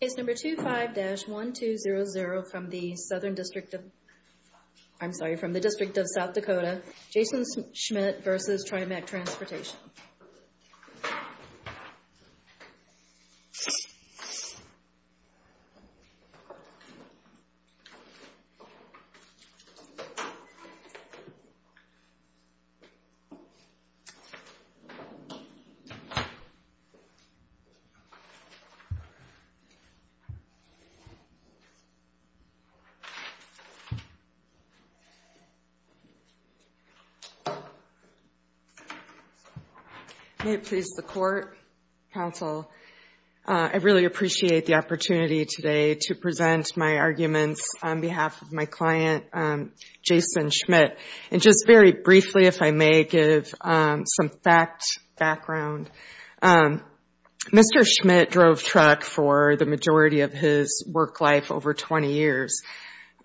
Case number 25-1200 from the Southern District of... I'm sorry, from the District of South Dakota, Jason Schmit v. Trimac Transportation. May it please the Court, Counsel, I really appreciate the opportunity today to present my arguments on behalf of my client, Jason Schmit. And just very briefly, if I may, give some fact background. Mr. Schmit drove truck for the majority of his work life over 20 years,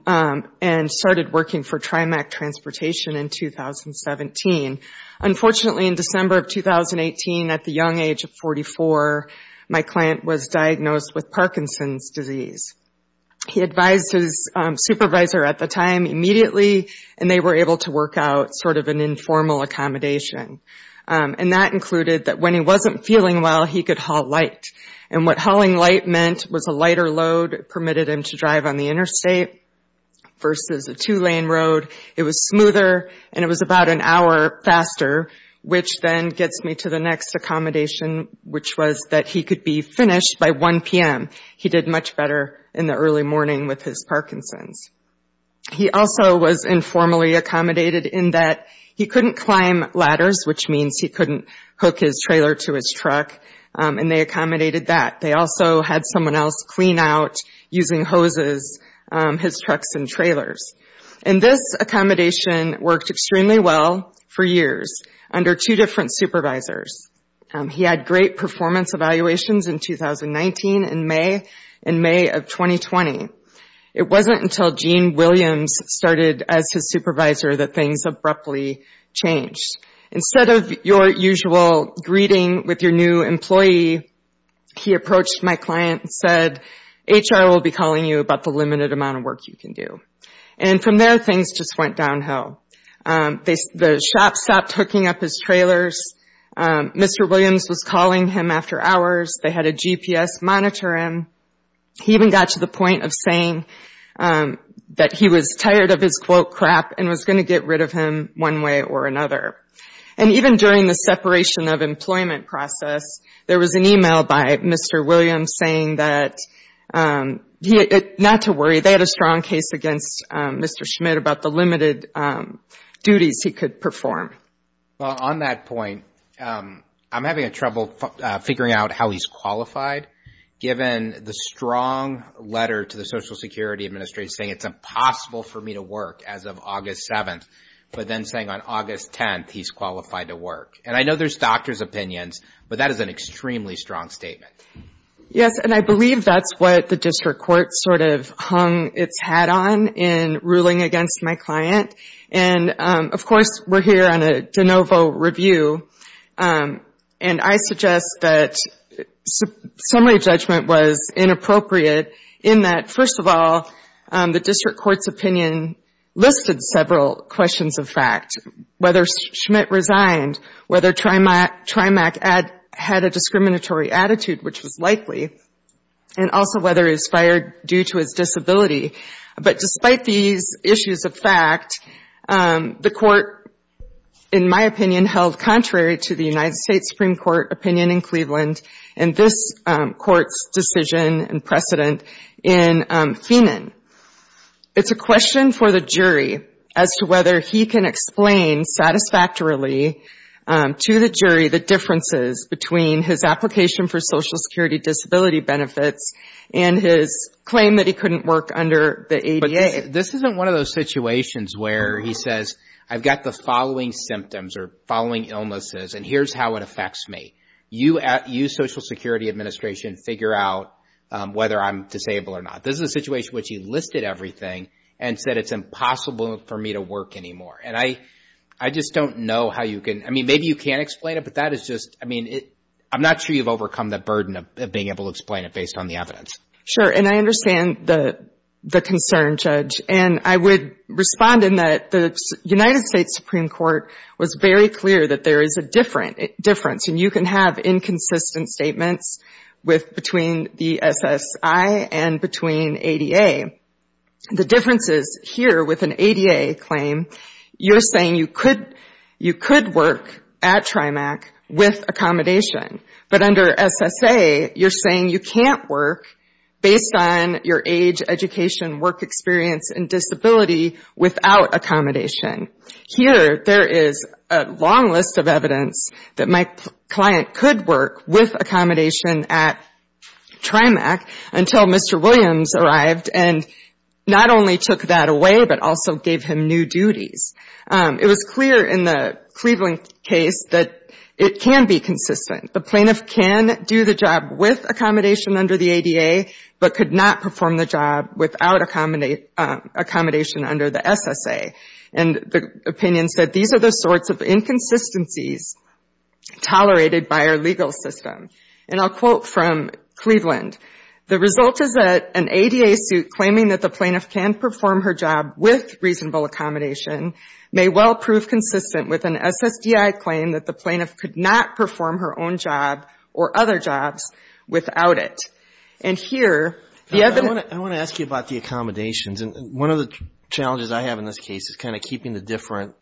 and started working for Trimac Transportation in 2017. Unfortunately, in December of 2018, at the young age of 44, my client was diagnosed with Parkinson's disease. He advised his supervisor at the time immediately, and they were able to work out sort of an informal accommodation. And that included that when he wasn't feeling well, he could haul light. And what hauling light meant was a lighter load permitted him to drive on the interstate versus a two-lane road. It was smoother, and it was about an hour faster, which then gets me to the next accommodation, which was that he could be finished by 1 p.m. He did much better in the early morning with his Parkinson's. He also was informally accommodated in that he couldn't climb ladders, which means he couldn't hook his trailer to his truck, and they accommodated that. They also had someone else clean out using hoses his trucks and trailers. And this accommodation worked extremely well for years under two different supervisors. He had great performance evaluations in 2019 and May of 2020. It wasn't until Gene Williams started as his supervisor that things abruptly changed. Instead of your usual greeting with your new employee, he approached my client and said, HR will be calling you about the limited amount of work you can do. And from there, things just went downhill. The shop stopped hooking up his trailers. Mr. Williams was calling him after hours. They had a GPS monitor him. He even got to the point of saying that he was tired of his, quote, crap and was going to get rid of him one way or another. And even during the separation of employment process, there was an email by Mr. Williams saying that, not to worry, they had a strong case against Mr. Schmidt about the limited duties he could perform. Well, on that point, I'm having trouble figuring out how he's qualified given the strong letter to the Social Security Administrator saying it's impossible for me to work as of August 7th, but then saying on August 10th, he's qualified to work. And I know there's doctors' opinions, but that is an extremely strong statement. Yes, and I believe that's what the district court sort of hung its hat on in ruling against my client. And, of course, we're here on a de novo review. And I suggest that summary judgment was inappropriate in that, first of all, the district court's opinion listed several questions of fact, whether Schmidt resigned, whether Trimack had a discriminatory attitude, which was likely, and also whether he was fired due to his disability. But despite these issues of fact, the court, in my opinion, held contrary to the United States Supreme Court opinion in Cleveland and this court's decision and precedent in Feenan. It's a question for the jury as to whether he can explain satisfactorily to the jury the differences between his application for Social Security disability benefits and his claim that he couldn't work under the ADA. This isn't one of those situations where he says, I've got the following symptoms or following illnesses and here's how it affects me. You, Social Security Administration, figure out whether I'm disabled or not. This is a situation which he listed everything and said it's impossible for me to work anymore. And I just don't know how you can, I mean, maybe you can explain it, but that is just, I mean, I'm not sure you've overcome the burden of being able to explain it based on the evidence. Sure, and I understand the concern, Judge. And I would respond in that the United States Supreme Court was very clear that there is a difference, and you can have inconsistent statements between the SSI and between ADA. The differences here with an ADA claim, you're saying you could work at TRIMAC with accommodation, but under SSA, you're saying you can't work based on your age, education, work experience and disability without accommodation. Here, there is a long list of evidence that my client could work with accommodation at TRIMAC until Mr. Williams arrived and not only took that away, but also gave him new duties. It was clear in the Cleveland case that it can be consistent. The plaintiff can do the job with accommodation under the ADA, but could not perform the job without accommodation under the SSA. And the opinion said these are the sorts of inconsistencies tolerated by our legal system. And I'll quote from Cleveland, The result is that an ADA suit claiming that the plaintiff can perform her job with reasonable accommodation may well prove consistent with an SSDI claim that the plaintiff could not perform her own job or other jobs without it. And here, the evidence... I want to ask you about the accommodations. And one of the challenges I have in this case is kind of keeping the different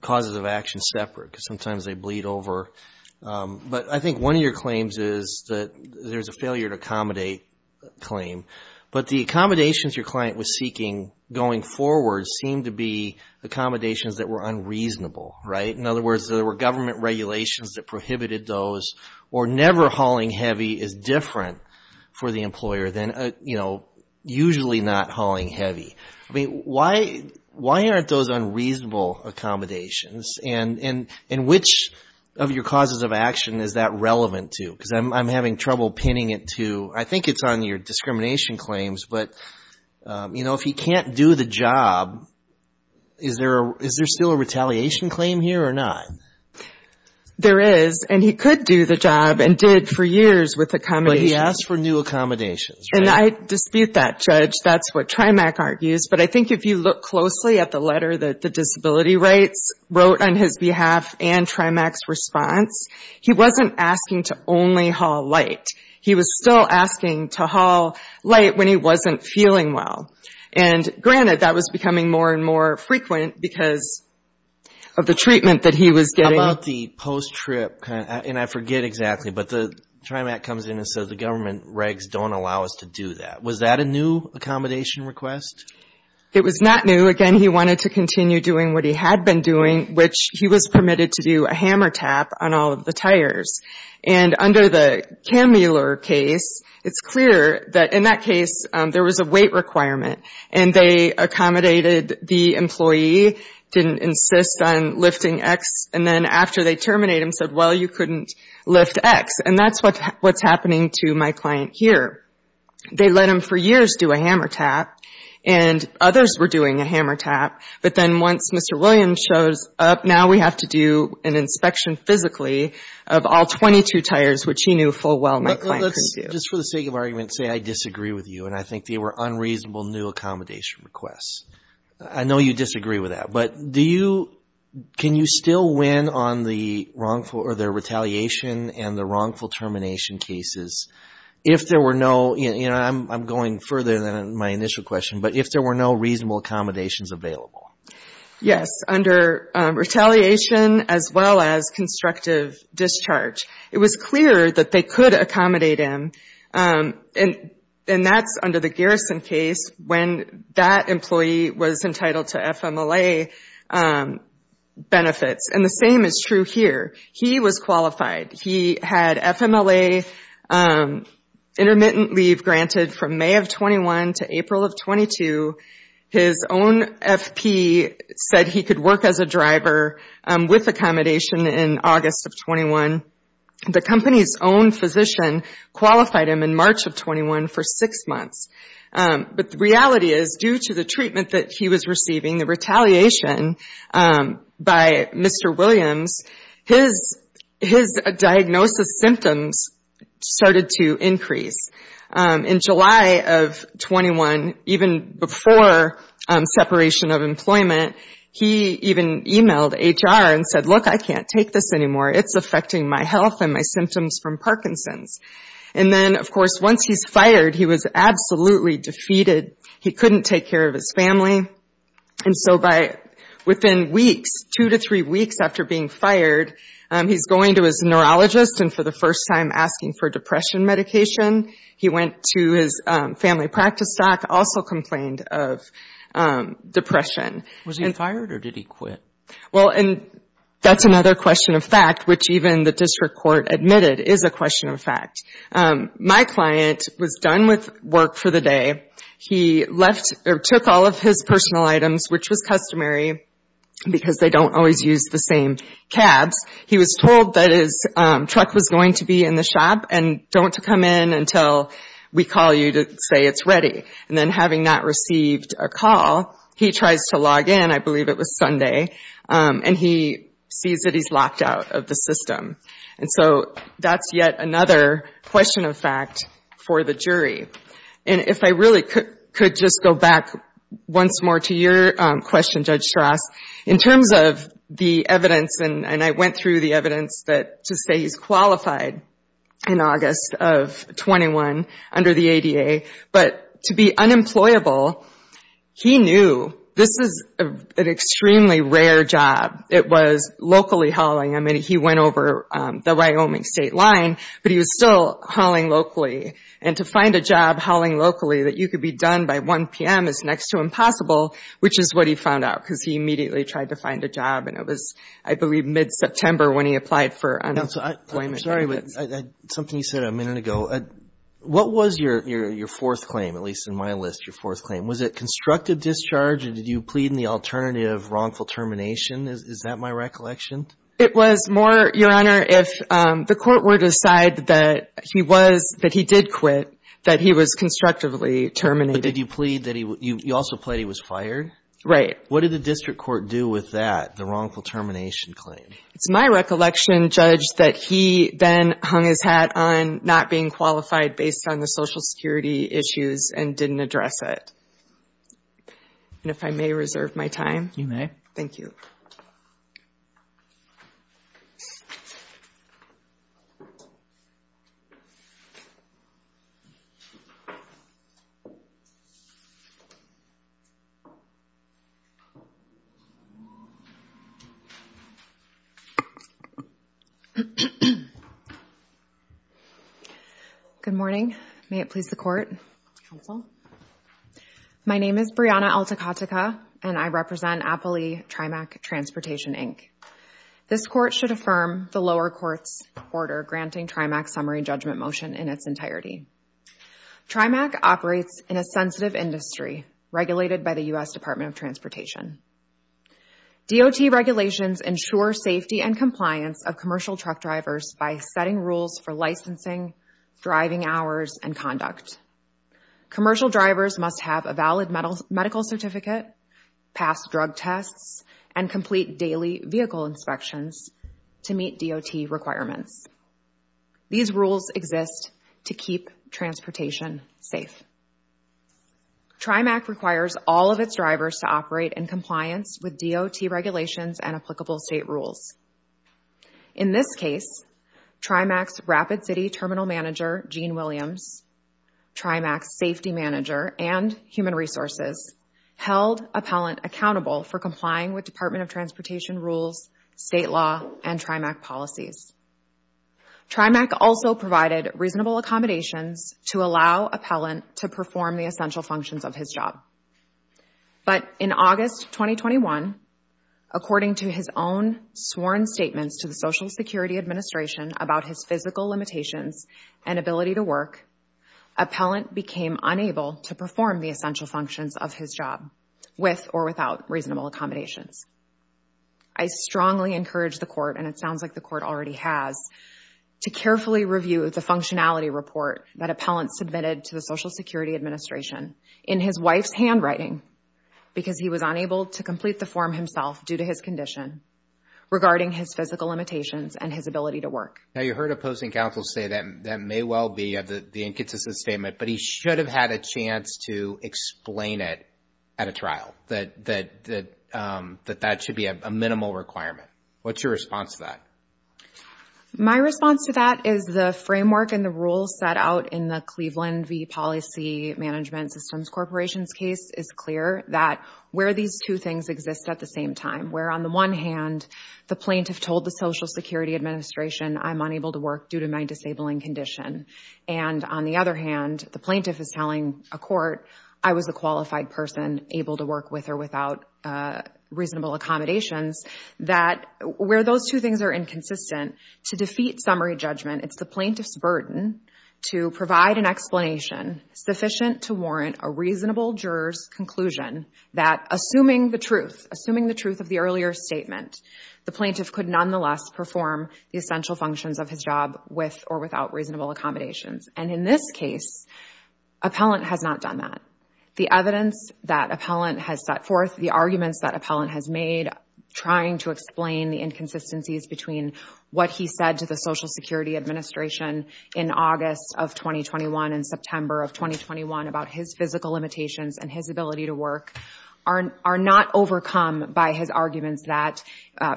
causes of action separate because sometimes they bleed over. But I think one of your claims is that there's a failure to accommodate claim. But the accommodations your client was seeking going forward seemed to be accommodations that were unreasonable, right? In other words, there were government regulations that prohibited those. Or never hauling heavy is different for the employer than, you know, usually not hauling heavy. I mean, why aren't those unreasonable accommodations? And which of your causes of action is that relevant to? Because I'm having trouble pinning it to... I think it's on your discrimination claims. But, you know, if he can't do the job, is there still a retaliation claim here or not? There is. And he could do the job and did for years with accommodations. But he asked for new accommodations, right? And I dispute that, Judge. That's what TRIMAC argues. But I think if you look closely at the letter that the disability rights wrote on his behalf and TRIMAC's response, he wasn't asking to only haul light. He was still asking to haul light when he wasn't feeling well. And granted, that was becoming more and more frequent because of the treatment that he was getting. About the post-trip, and I forget exactly, but the TRIMAC comes in and says the government regs don't allow us to do that. Was that a new accommodation request? It was not new. Again, he wanted to continue doing what he had been doing, which he was permitted to do a hammer tap on all of the tires. And under the Kammler case, it's clear that in that case, there was a weight requirement. And they accommodated the employee, didn't insist on lifting X. And then after they terminate him, said, well, you couldn't lift X. And that's what's happening to my client here. They let him for years do a hammer tap, and others were doing a hammer tap. But then once Mr. Williams shows up, now we have to do an inspection physically of all 22 tires, which he knew full well my client couldn't do. Just for the sake of argument, say I disagree with you and I think they were unreasonable new accommodation requests. I know you disagree with that, but do you, can you still win on the wrongful, or their I'm going further than my initial question, but if there were no reasonable accommodations available? Yes. Under retaliation as well as constructive discharge. It was clear that they could accommodate him, and that's under the Garrison case when that employee was entitled to FMLA benefits. And the same is true here. He was qualified. He had FMLA intermittent leave granted from May of 21 to April of 22. His own FP said he could work as a driver with accommodation in August of 21. The company's own physician qualified him in March of 21 for six months. But the reality is, due to the treatment that he was receiving, the retaliation by Mr. Williams, his diagnosis symptoms started to increase. In July of 21, even before separation of employment, he even emailed HR and said, look, I can't take this anymore. It's affecting my health and my symptoms from Parkinson's. And then, of course, once he's fired, he was absolutely defeated. He couldn't take care of his family. And so within weeks, two to three weeks after being fired, he's going to his neurologist and for the first time asking for depression medication. He went to his family practice doc, also complained of depression. Was he fired or did he quit? Well, and that's another question of fact, which even the district court admitted is a question of fact. My client was done with work for the day. He left or took all of his personal items, which was customary because they don't always use the same cabs. He was told that his truck was going to be in the shop and don't come in until we call you to say it's ready. And then having not received a call, he tries to log in. I believe it was Sunday. And he sees that he's locked out of the system. And so that's yet another question of fact for the jury. And if I really could just go back once more to your question, Judge Strauss, in terms of the evidence, and I went through the evidence that to say he's qualified in August of 21 under the ADA, but to be unemployable, he knew this is an extremely rare job. It was locally hauling. I mean, he went over the Wyoming state line, but he was still hauling locally. And to find a job hauling locally that you could be done by 1 p.m. is next to impossible, which is what he found out, because he immediately tried to find a job. And it was, I believe, mid-September when he applied for unemployment benefits. I'm sorry, but something you said a minute ago. What was your fourth claim, at least in my list, your fourth claim? Was it constructive discharge, or did you plead in the alternative wrongful termination? Is that my recollection? It was more, Your Honor, if the court were to decide that he did quit, that he was constructively terminated. But did you plead, you also plead he was fired? Right. What did the district court do with that, the wrongful termination claim? It's my recollection, Judge, that he then hung his hat on not being qualified based on the social security issues and didn't address it. And if I may reserve my time. You may. Thank you. Good morning. May it please the court? My name is Brianna Alticutica. And I represent Appalee TRIMAC Transportation, Inc. This court should affirm the lower court's order granting TRIMAC summary judgment motion in its entirety. TRIMAC operates in a sensitive industry regulated by the US Department of Transportation. DOT regulations ensure safety and compliance of commercial truck drivers by setting rules for licensing, driving hours, and conduct. Commercial drivers must have a valid medical certificate, pass drug tests, and complete daily vehicle inspections to meet DOT requirements. These rules exist to keep transportation safe. TRIMAC requires all of its drivers to operate in compliance with DOT regulations and applicable state rules. In this case, TRIMAC's Rapid City Terminal Manager, Gene Williams, TRIMAC's Safety Manager, and Human Resources held Appellant accountable for complying with Department of Transportation rules, state law, and TRIMAC policies. TRIMAC also provided reasonable accommodations to allow Appellant to perform the essential functions of his job. But in August 2021, according to his own sworn statements to the Social Security Administration about his physical limitations and ability to work, Appellant became unable to perform the essential functions of his job with or without reasonable accommodations. I strongly encourage the court, and it sounds like the court already has, to carefully review the functionality report that Appellant submitted to the Social Security Administration in his wife's handwriting because he was unable to complete the form himself due to his condition regarding his physical limitations and his ability to work. Now, you heard opposing counsel say that may well be the inconsistent statement, but he should have had a chance to explain it at a trial, that that should be a minimal requirement. What's your response to that? My response to that is the framework and the rules set out in the Cleveland v. Policy Management Systems Corporation's case is clear that where these two things exist at the same time, where on the one hand, the plaintiff told the Social Security Administration I'm unable to work due to my disabling condition, and on the other hand, the plaintiff is telling a court I was a qualified person able to work with or without reasonable accommodations, that where those two things are inconsistent, to defeat summary judgment, it's the plaintiff's burden to provide an explanation sufficient to warrant a reasonable juror's conclusion that assuming the truth, assuming the truth of the earlier statement, the plaintiff could nonetheless perform the essential functions of his job with or without reasonable accommodations. And in this case, Appellant has not done that. The evidence that Appellant has set forth, the arguments that Appellant has made trying to explain the inconsistencies between what he said to the Social Security Administration in August of 2021 and September of 2021 about his physical limitations and his ability to work are not overcome by his arguments that,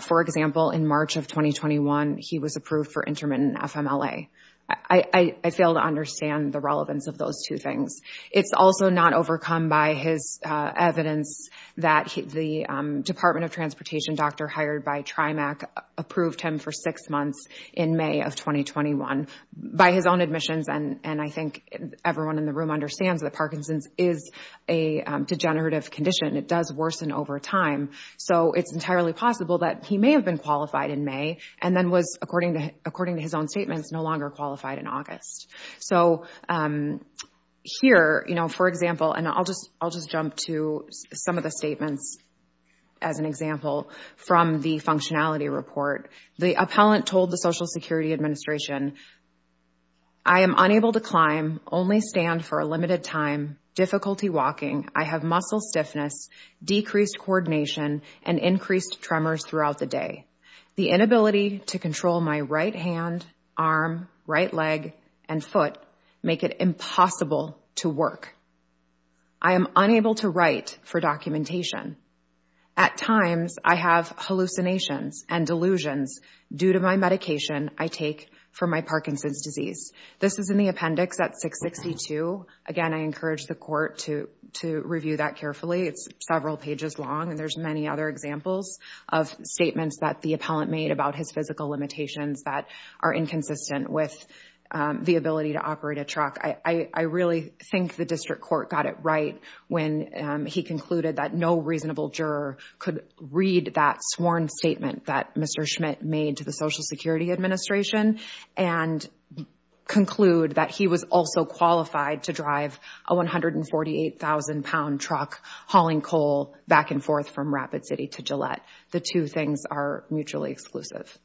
for example, in March of 2021, he was approved for intermittent FMLA. I fail to understand the relevance of those two things. It's also not overcome by his evidence that the Department of Transportation doctor hired by TRIMAC approved him for six months in May of 2021 by his own admissions, and I think everyone in the room understands that Parkinson's is a degenerative condition. It does worsen over time. So it's entirely possible that he may have been qualified in May and then was, according to his own statements, no longer qualified in August. So here, for example, and I'll just jump to some of the statements as an example from the functionality report. The Appellant told the Social Security Administration, I am unable to climb, only stand for a limited time, difficulty walking, I have muscle stiffness, decreased coordination, and increased tremors throughout the day. The inability to control my right hand, arm, right leg, and foot make it impossible to work. I am unable to write for documentation. At times, I have hallucinations and delusions due to my medication I take for my Parkinson's disease. This is in the appendix at 662. Again, I encourage the court to review that carefully. It's several pages long, and there's many other examples of statements that the Appellant made about his physical limitations that are inconsistent with the ability to operate a truck. I really think the District Court got it right when he concluded that no reasonable juror could read that sworn statement that Mr. Schmidt made to the Social Security Administration and conclude that he was also qualified to drive a 148,000-pound truck hauling coal back and forth from Rapid City to Gillette. The two things are mutually exclusive.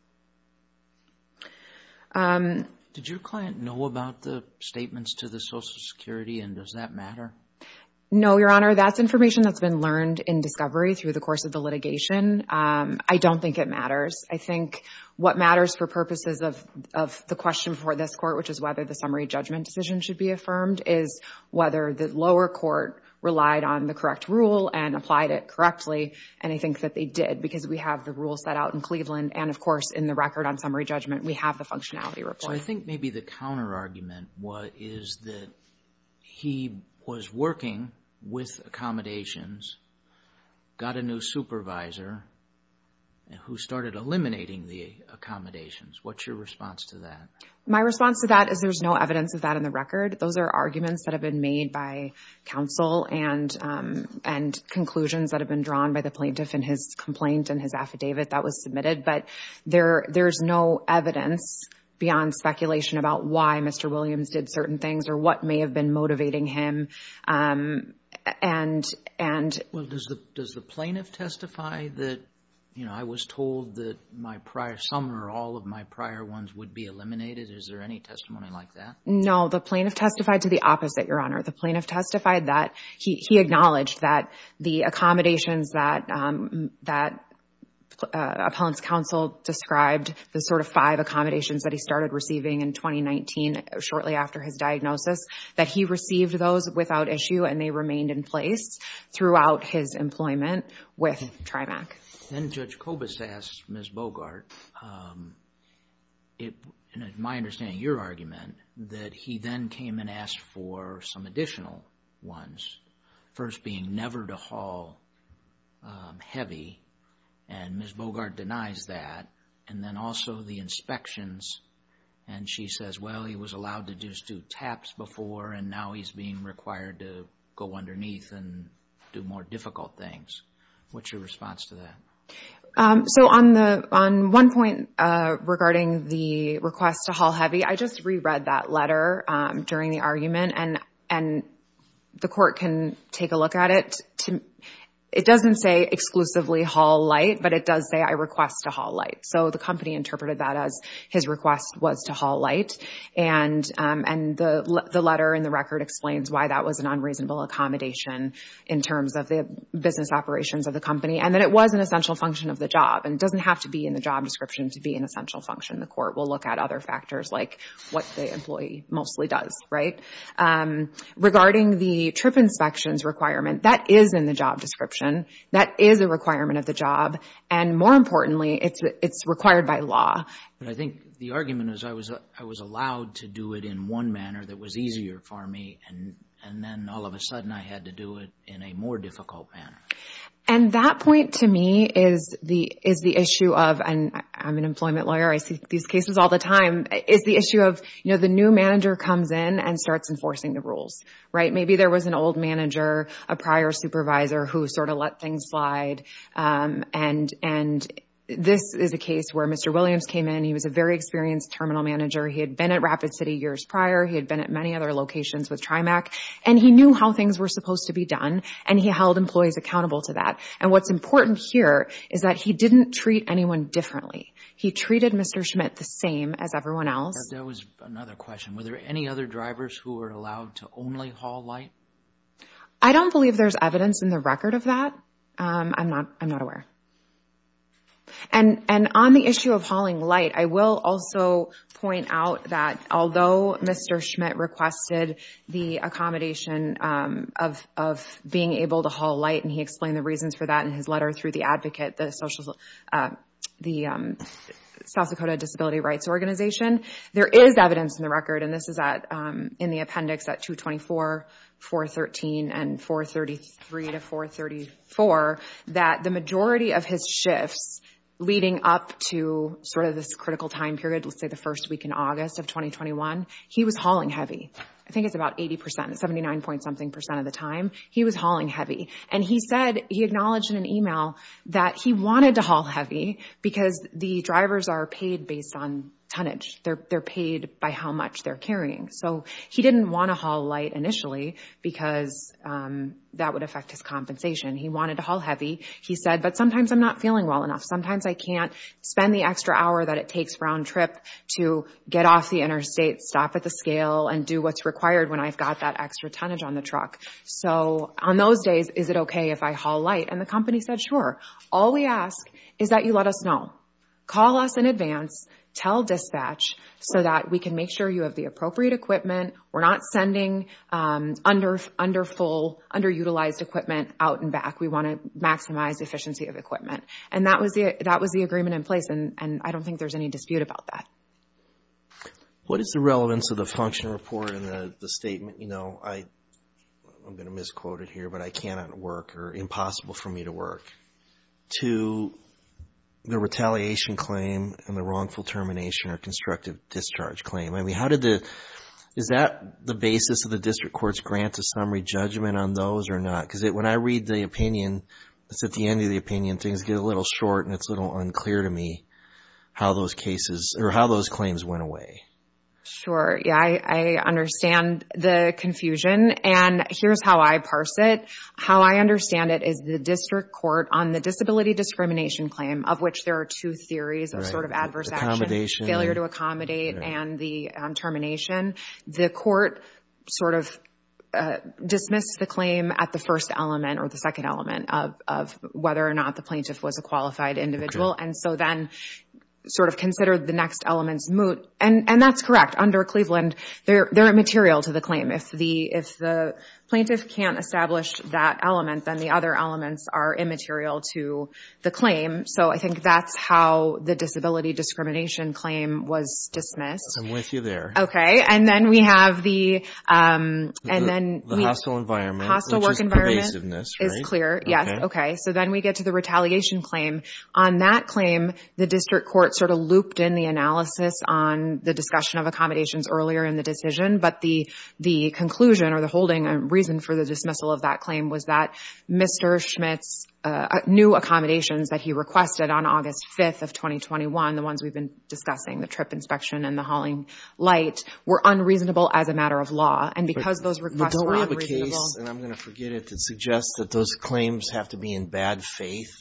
Did your client know about the statements to the Social Security, and does that matter? No, Your Honor, that's information that's been learned in discovery through the course of the litigation. I don't think it matters. I think what matters for purposes of the question for this court, which is whether the summary judgment decision should be affirmed, is whether the lower court relied on the correct rule and applied it correctly, and I think that they did, because we have the rule set out in Cleveland, and of course, in the record on summary judgment, we have the functionality report. I think maybe the counterargument is that he was working with accommodations and got a new supervisor who started eliminating the accommodations. What's your response to that? My response to that is there's no evidence of that in the record. Those are arguments that have been made by counsel and conclusions that have been drawn by the plaintiff in his complaint and his affidavit that was submitted, but there's no evidence beyond speculation about why Mr. Williams did certain things or what may have been motivating him. And... Well, does the plaintiff testify that, you know, I was told that my prior, some or all of my prior ones would be eliminated? Is there any testimony like that? No, the plaintiff testified to the opposite, Your Honor. The plaintiff testified that he acknowledged that the accommodations that appellant's counsel described, the sort of five accommodations that he started receiving in 2019, shortly after his diagnosis, that he received those without issue and they remained in place throughout his employment with TRIMAC. Then Judge Kobus asks Ms. Bogart, my understanding of your argument, that he then came and asked for some additional ones, first being never to haul heavy, and Ms. Bogart denies that, and then also the inspections, and she says, well, he was allowed to just do taps before and now he's being required to go underneath and do more difficult things. What's your response to that? So on one point regarding the request to haul heavy, I just re-read that letter during the argument and the court can take a look at it. It doesn't say exclusively haul light, but it does say I request to haul light. So the company interpreted that as his request was to haul light. And the letter in the record explains why that was an unreasonable accommodation in terms of the business operations of the company, and that it was an essential function of the job. And it doesn't have to be in the job description to be an essential function. The court will look at other factors like what the employee mostly does, right? Regarding the trip inspections requirement, that is in the job description. That is a requirement of the job. And more importantly, it's required by law. But I think the argument is I was allowed to do it in one manner that was easier for me. And then all of a sudden I had to do it in a more difficult manner. And that point to me is the issue of, and I'm an employment lawyer, I see these cases all the time, is the issue of the new manager comes in and starts enforcing the rules, right? Maybe there was an old manager, a prior supervisor who sort of let things slide. And this is a case where Mr. Williams came in. He was a very experienced terminal manager. He had been at Rapid City years prior. He had been at many other locations with TRIMAC. And he knew how things were supposed to be done. And he held employees accountable to that. And what's important here is that he didn't treat anyone differently. He treated Mr. Schmidt the same as everyone else. There was another question. Were there any other drivers who were allowed to only haul light? I don't believe there's evidence in the record of that. I'm not aware. And on the issue of hauling light, I will also point out that although Mr. Schmidt requested the accommodation of being able to haul light, and he explained the reasons for that in his letter through the advocate, the South Dakota Disability Rights Organization, there is evidence in the record, and this is in the appendix at 224-413 and 433-434, that the majority of his shifts leading up to sort of this critical time period, let's say the first week in August of 2021, he was hauling heavy. I think it's about 80%, 79 point something percent of the time, he was hauling heavy. And he said, he acknowledged in an email that he wanted to haul heavy because the drivers are paid based on tonnage. They're paid by how much they're carrying. So he didn't want to haul light initially because that would affect his compensation. He wanted to haul heavy. He said, but sometimes I'm not feeling well enough. Sometimes I can't spend the extra hour that it takes round trip to get off the interstate, stop at the scale and do what's required when I've got that extra tonnage on the truck. So on those days, is it okay if I haul light? And the company said, sure. All we ask is that you let us know. Call us in advance, tell dispatch so that we can make sure you have the appropriate equipment. We're not sending underutilized equipment out and back. We want to maximize efficiency of equipment. And that was the agreement in place. And I don't think there's any dispute about that. What is the relevance of the function report and the statement, I'm going to misquote it here, but I cannot work or impossible for me to work to the retaliation claim and the wrongful termination or constructive discharge claim? I mean, how did the, is that the basis of the district court's grant to summary judgment on those or not? Because when I read the opinion, it's at the end of the opinion, things get a little short and it's a little unclear to me how those cases or how those claims went away. Sure, yeah, I understand the confusion and here's how I parse it. How I understand it is the district court on the disability discrimination claim of which there are two theories of sort of adverse action, failure to accommodate and the termination. The court sort of dismissed the claim at the first element or the second element of whether or not the plaintiff was a qualified individual. And so then sort of considered the next elements moot. And that's correct under Cleveland, they're immaterial to the claim. If the plaintiff can't establish that element, then the other elements are immaterial to the claim. So I think that's how the disability discrimination claim was dismissed. I'm with you there. Okay, and then we have the, and then we- The hostile environment. Hostile work environment. Which is pervasiveness, right? Is clear, yes, okay. So then we get to the retaliation claim. On that claim, the district court sort of looped in the analysis on the discussion of accommodations earlier in the decision. But the conclusion or the holding and reason for the dismissal of that claim was that Mr. Schmidt's new accommodations that he requested on August 5th of 2021, the ones we've been discussing, the trip inspection and the hauling light, were unreasonable as a matter of law. And because those requests were unreasonable- But don't we have a case, and I'm gonna forget it, that suggests that those claims have to be in bad faith?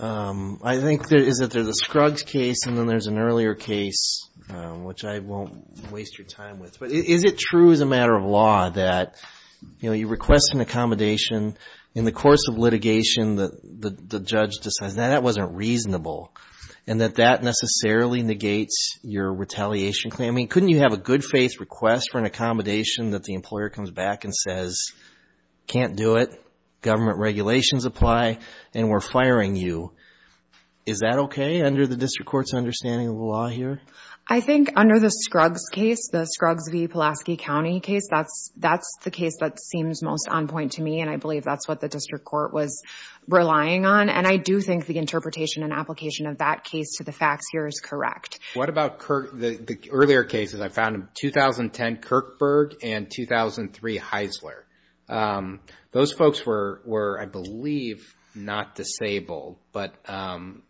I think that is that there's a Scruggs case and then there's an earlier case, which I won't waste your time with. But is it true as a matter of law that you request an accommodation, in the course of litigation, that the judge decides, no, that wasn't reasonable, and that that necessarily negates your retaliation claim? I mean, couldn't you have a good faith request for an accommodation that the employer comes back and says, can't do it, government regulations apply, and we're firing you? Is that okay under the district court's understanding of the law here? I think under the Scruggs case, the Scruggs v. Pulaski County case, that's the case that seems most on point to me, and I believe that's what the district court was relying on. And I do think the interpretation and application of that case to the facts here is correct. What about the earlier cases? I found in 2010, Kirkburg, and 2003, Heisler. Those folks were, I believe, not disabled, but,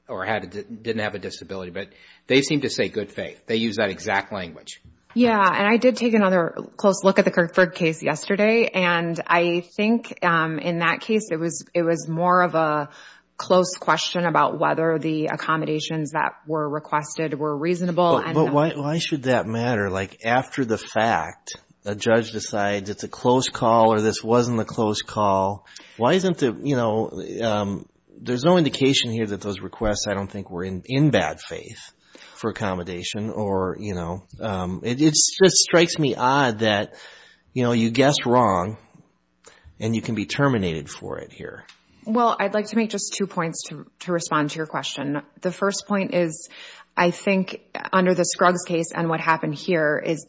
or didn't have a disability, but they seem to say good faith. They use that exact language. Yeah, and I did take another close look at the Kirkburg case yesterday, and I think in that case, it was more of a close question about whether the accommodations that were requested were reasonable. But why should that matter? Like, after the fact, a judge decides it's a close call or this wasn't a close call. Why isn't the, you know, there's no indication here that those requests, I don't think, were in bad faith for accommodation, or, you know, it just strikes me odd that, you know, you guessed wrong, and you can be terminated for it here. Well, I'd like to make just two points to respond to your question. The first point is, I think, under the Scruggs case and what happened here is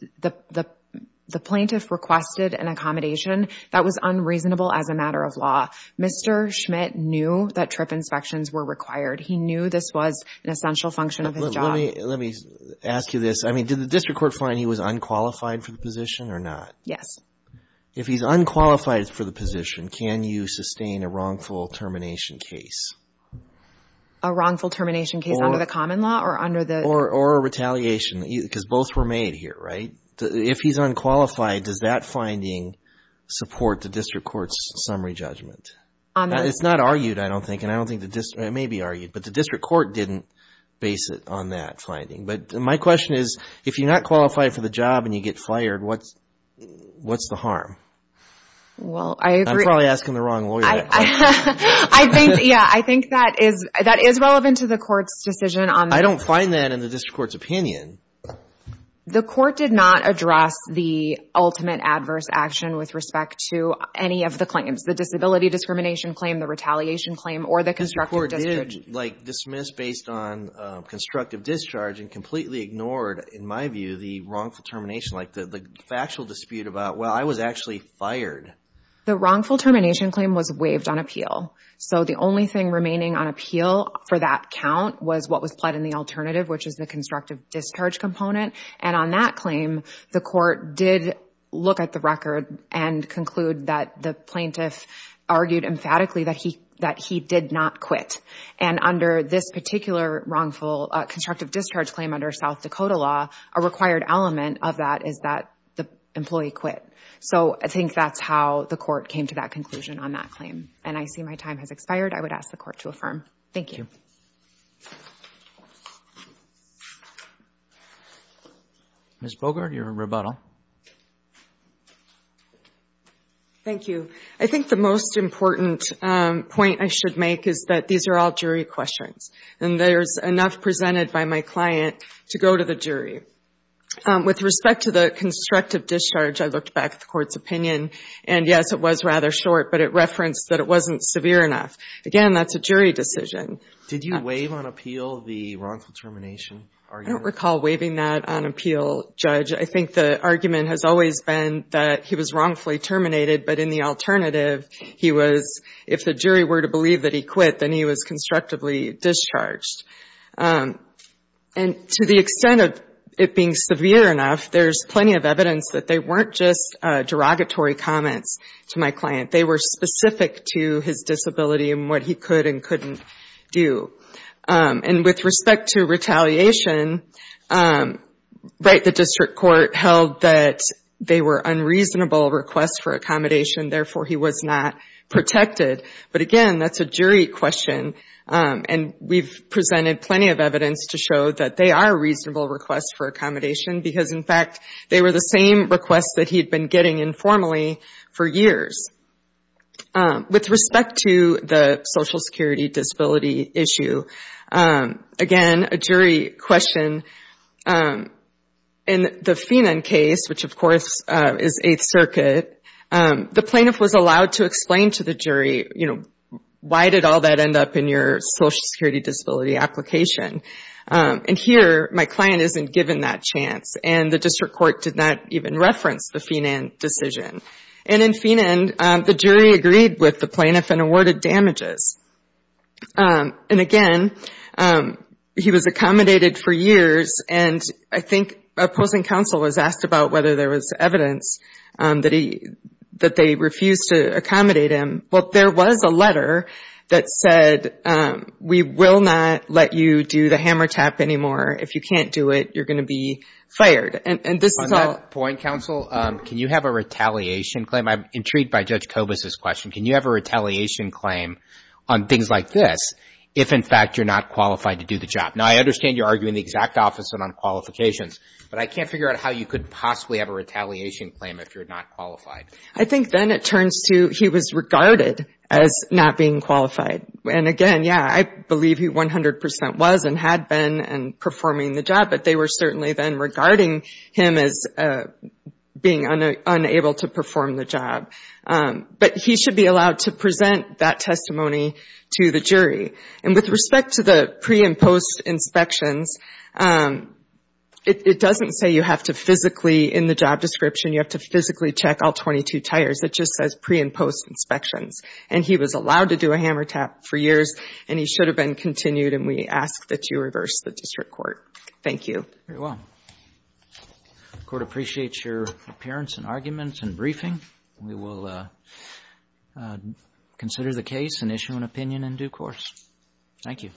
the plaintiff requested an accommodation that was unreasonable as a matter of law. Mr. Schmidt knew that trip inspections were required. He knew this was an essential function of his job. Let me ask you this. I mean, did the district court find he was unqualified for the position or not? If he's unqualified for the position, can you sustain a wrongful termination case? A wrongful termination case under the common law or under the? Or a retaliation, because both were made here, right? If he's unqualified, does that finding support the district court's summary judgment? It's not argued, I don't think, and I don't think the district, it may be argued, but the district court didn't base it on that finding. But my question is, if you're not qualified for the job and you get fired, what's the harm? Well, I agree. I'm probably asking the wrong lawyer. I think, yeah, I think that is relevant to the court's decision on. I don't find that in the district court's opinion. The court did not address the ultimate adverse action with respect to any of the claims, the disability discrimination claim, the retaliation claim, or the constructive discharge. Like dismissed based on constructive discharge and completely ignored, in my view, the wrongful termination, like the factual dispute about, well, I was actually fired. The wrongful termination claim was waived on appeal. So the only thing remaining on appeal for that count was what was pled in the alternative, which is the constructive discharge component. And on that claim, the court did look at the record and conclude that the plaintiff argued emphatically that he did not quit. And under this particular wrongful constructive discharge claim under South Dakota law, a required element of that is that the employee quit. So I think that's how the court came to that conclusion on that claim. And I see my time has expired. I would ask the court to affirm. Thank you. Ms. Bogart, your rebuttal. Thank you. I think the most important point I should make is that these are all jury questions. And there's enough presented by my client to go to the jury. With respect to the constructive discharge, I looked back at the court's opinion. And yes, it was rather short, but it referenced that it wasn't severe enough. Again, that's a jury decision. Did you waive on appeal the wrongful termination argument? I don't recall waiving that on appeal, Judge. I think the argument has always been that he was wrongfully terminated, but in the alternative, he was, if the jury were to believe that he quit, then he was constructively discharged. And to the extent of it being severe enough, there's plenty of evidence that they weren't just derogatory comments to my client. They were specific to his disability and what he could and couldn't do. And with respect to retaliation, right, the district court held that they were unreasonable requests for accommodation. Therefore, he was not protected. But again, that's a jury question. And we've presented plenty of evidence to show that they are reasonable requests for accommodation because in fact, they were the same requests that he'd been getting informally for years. With respect to the social security disability issue, again, a jury question. In the Phenon case, which of course is Eighth Circuit, the plaintiff was allowed to explain to the jury, why did all that end up in your social security disability application? And here, my client isn't given that chance. And the district court did not even reference the Phenon decision. And in Phenon, the jury agreed with the plaintiff and awarded damages. And again, he was accommodated for years. And I think opposing counsel was asked about whether there was evidence that they refused to accommodate him. Well, there was a letter that said, we will not let you do the hammer tap anymore. If you can't do it, you're gonna be fired. And this is all- On that point, counsel, can you have a retaliation claim? I'm intrigued by Judge Kobus' question. Can you have a retaliation claim on things like this, if in fact, you're not qualified to do the job? Now, I understand you're arguing the exact opposite on qualifications, but I can't figure out how you could possibly have a retaliation claim if you're not qualified. I think then it turns to, he was regarded as not being qualified. And again, yeah, I believe he 100% was and had been and performing the job, but they were certainly then regarding him as being unable to perform the job. But he should be allowed to present that testimony to the jury. And with respect to the pre and post inspections, it doesn't say you have to physically, in the job description, you have to physically check all 22 tires. It just says pre and post inspections. And he was allowed to do a hammer tap for years, and he should have been continued. And we ask that you reverse the district court. Thank you. Very well. Court appreciates your appearance and arguments and briefing. We will consider the case and issue an opinion in due course. Thank you.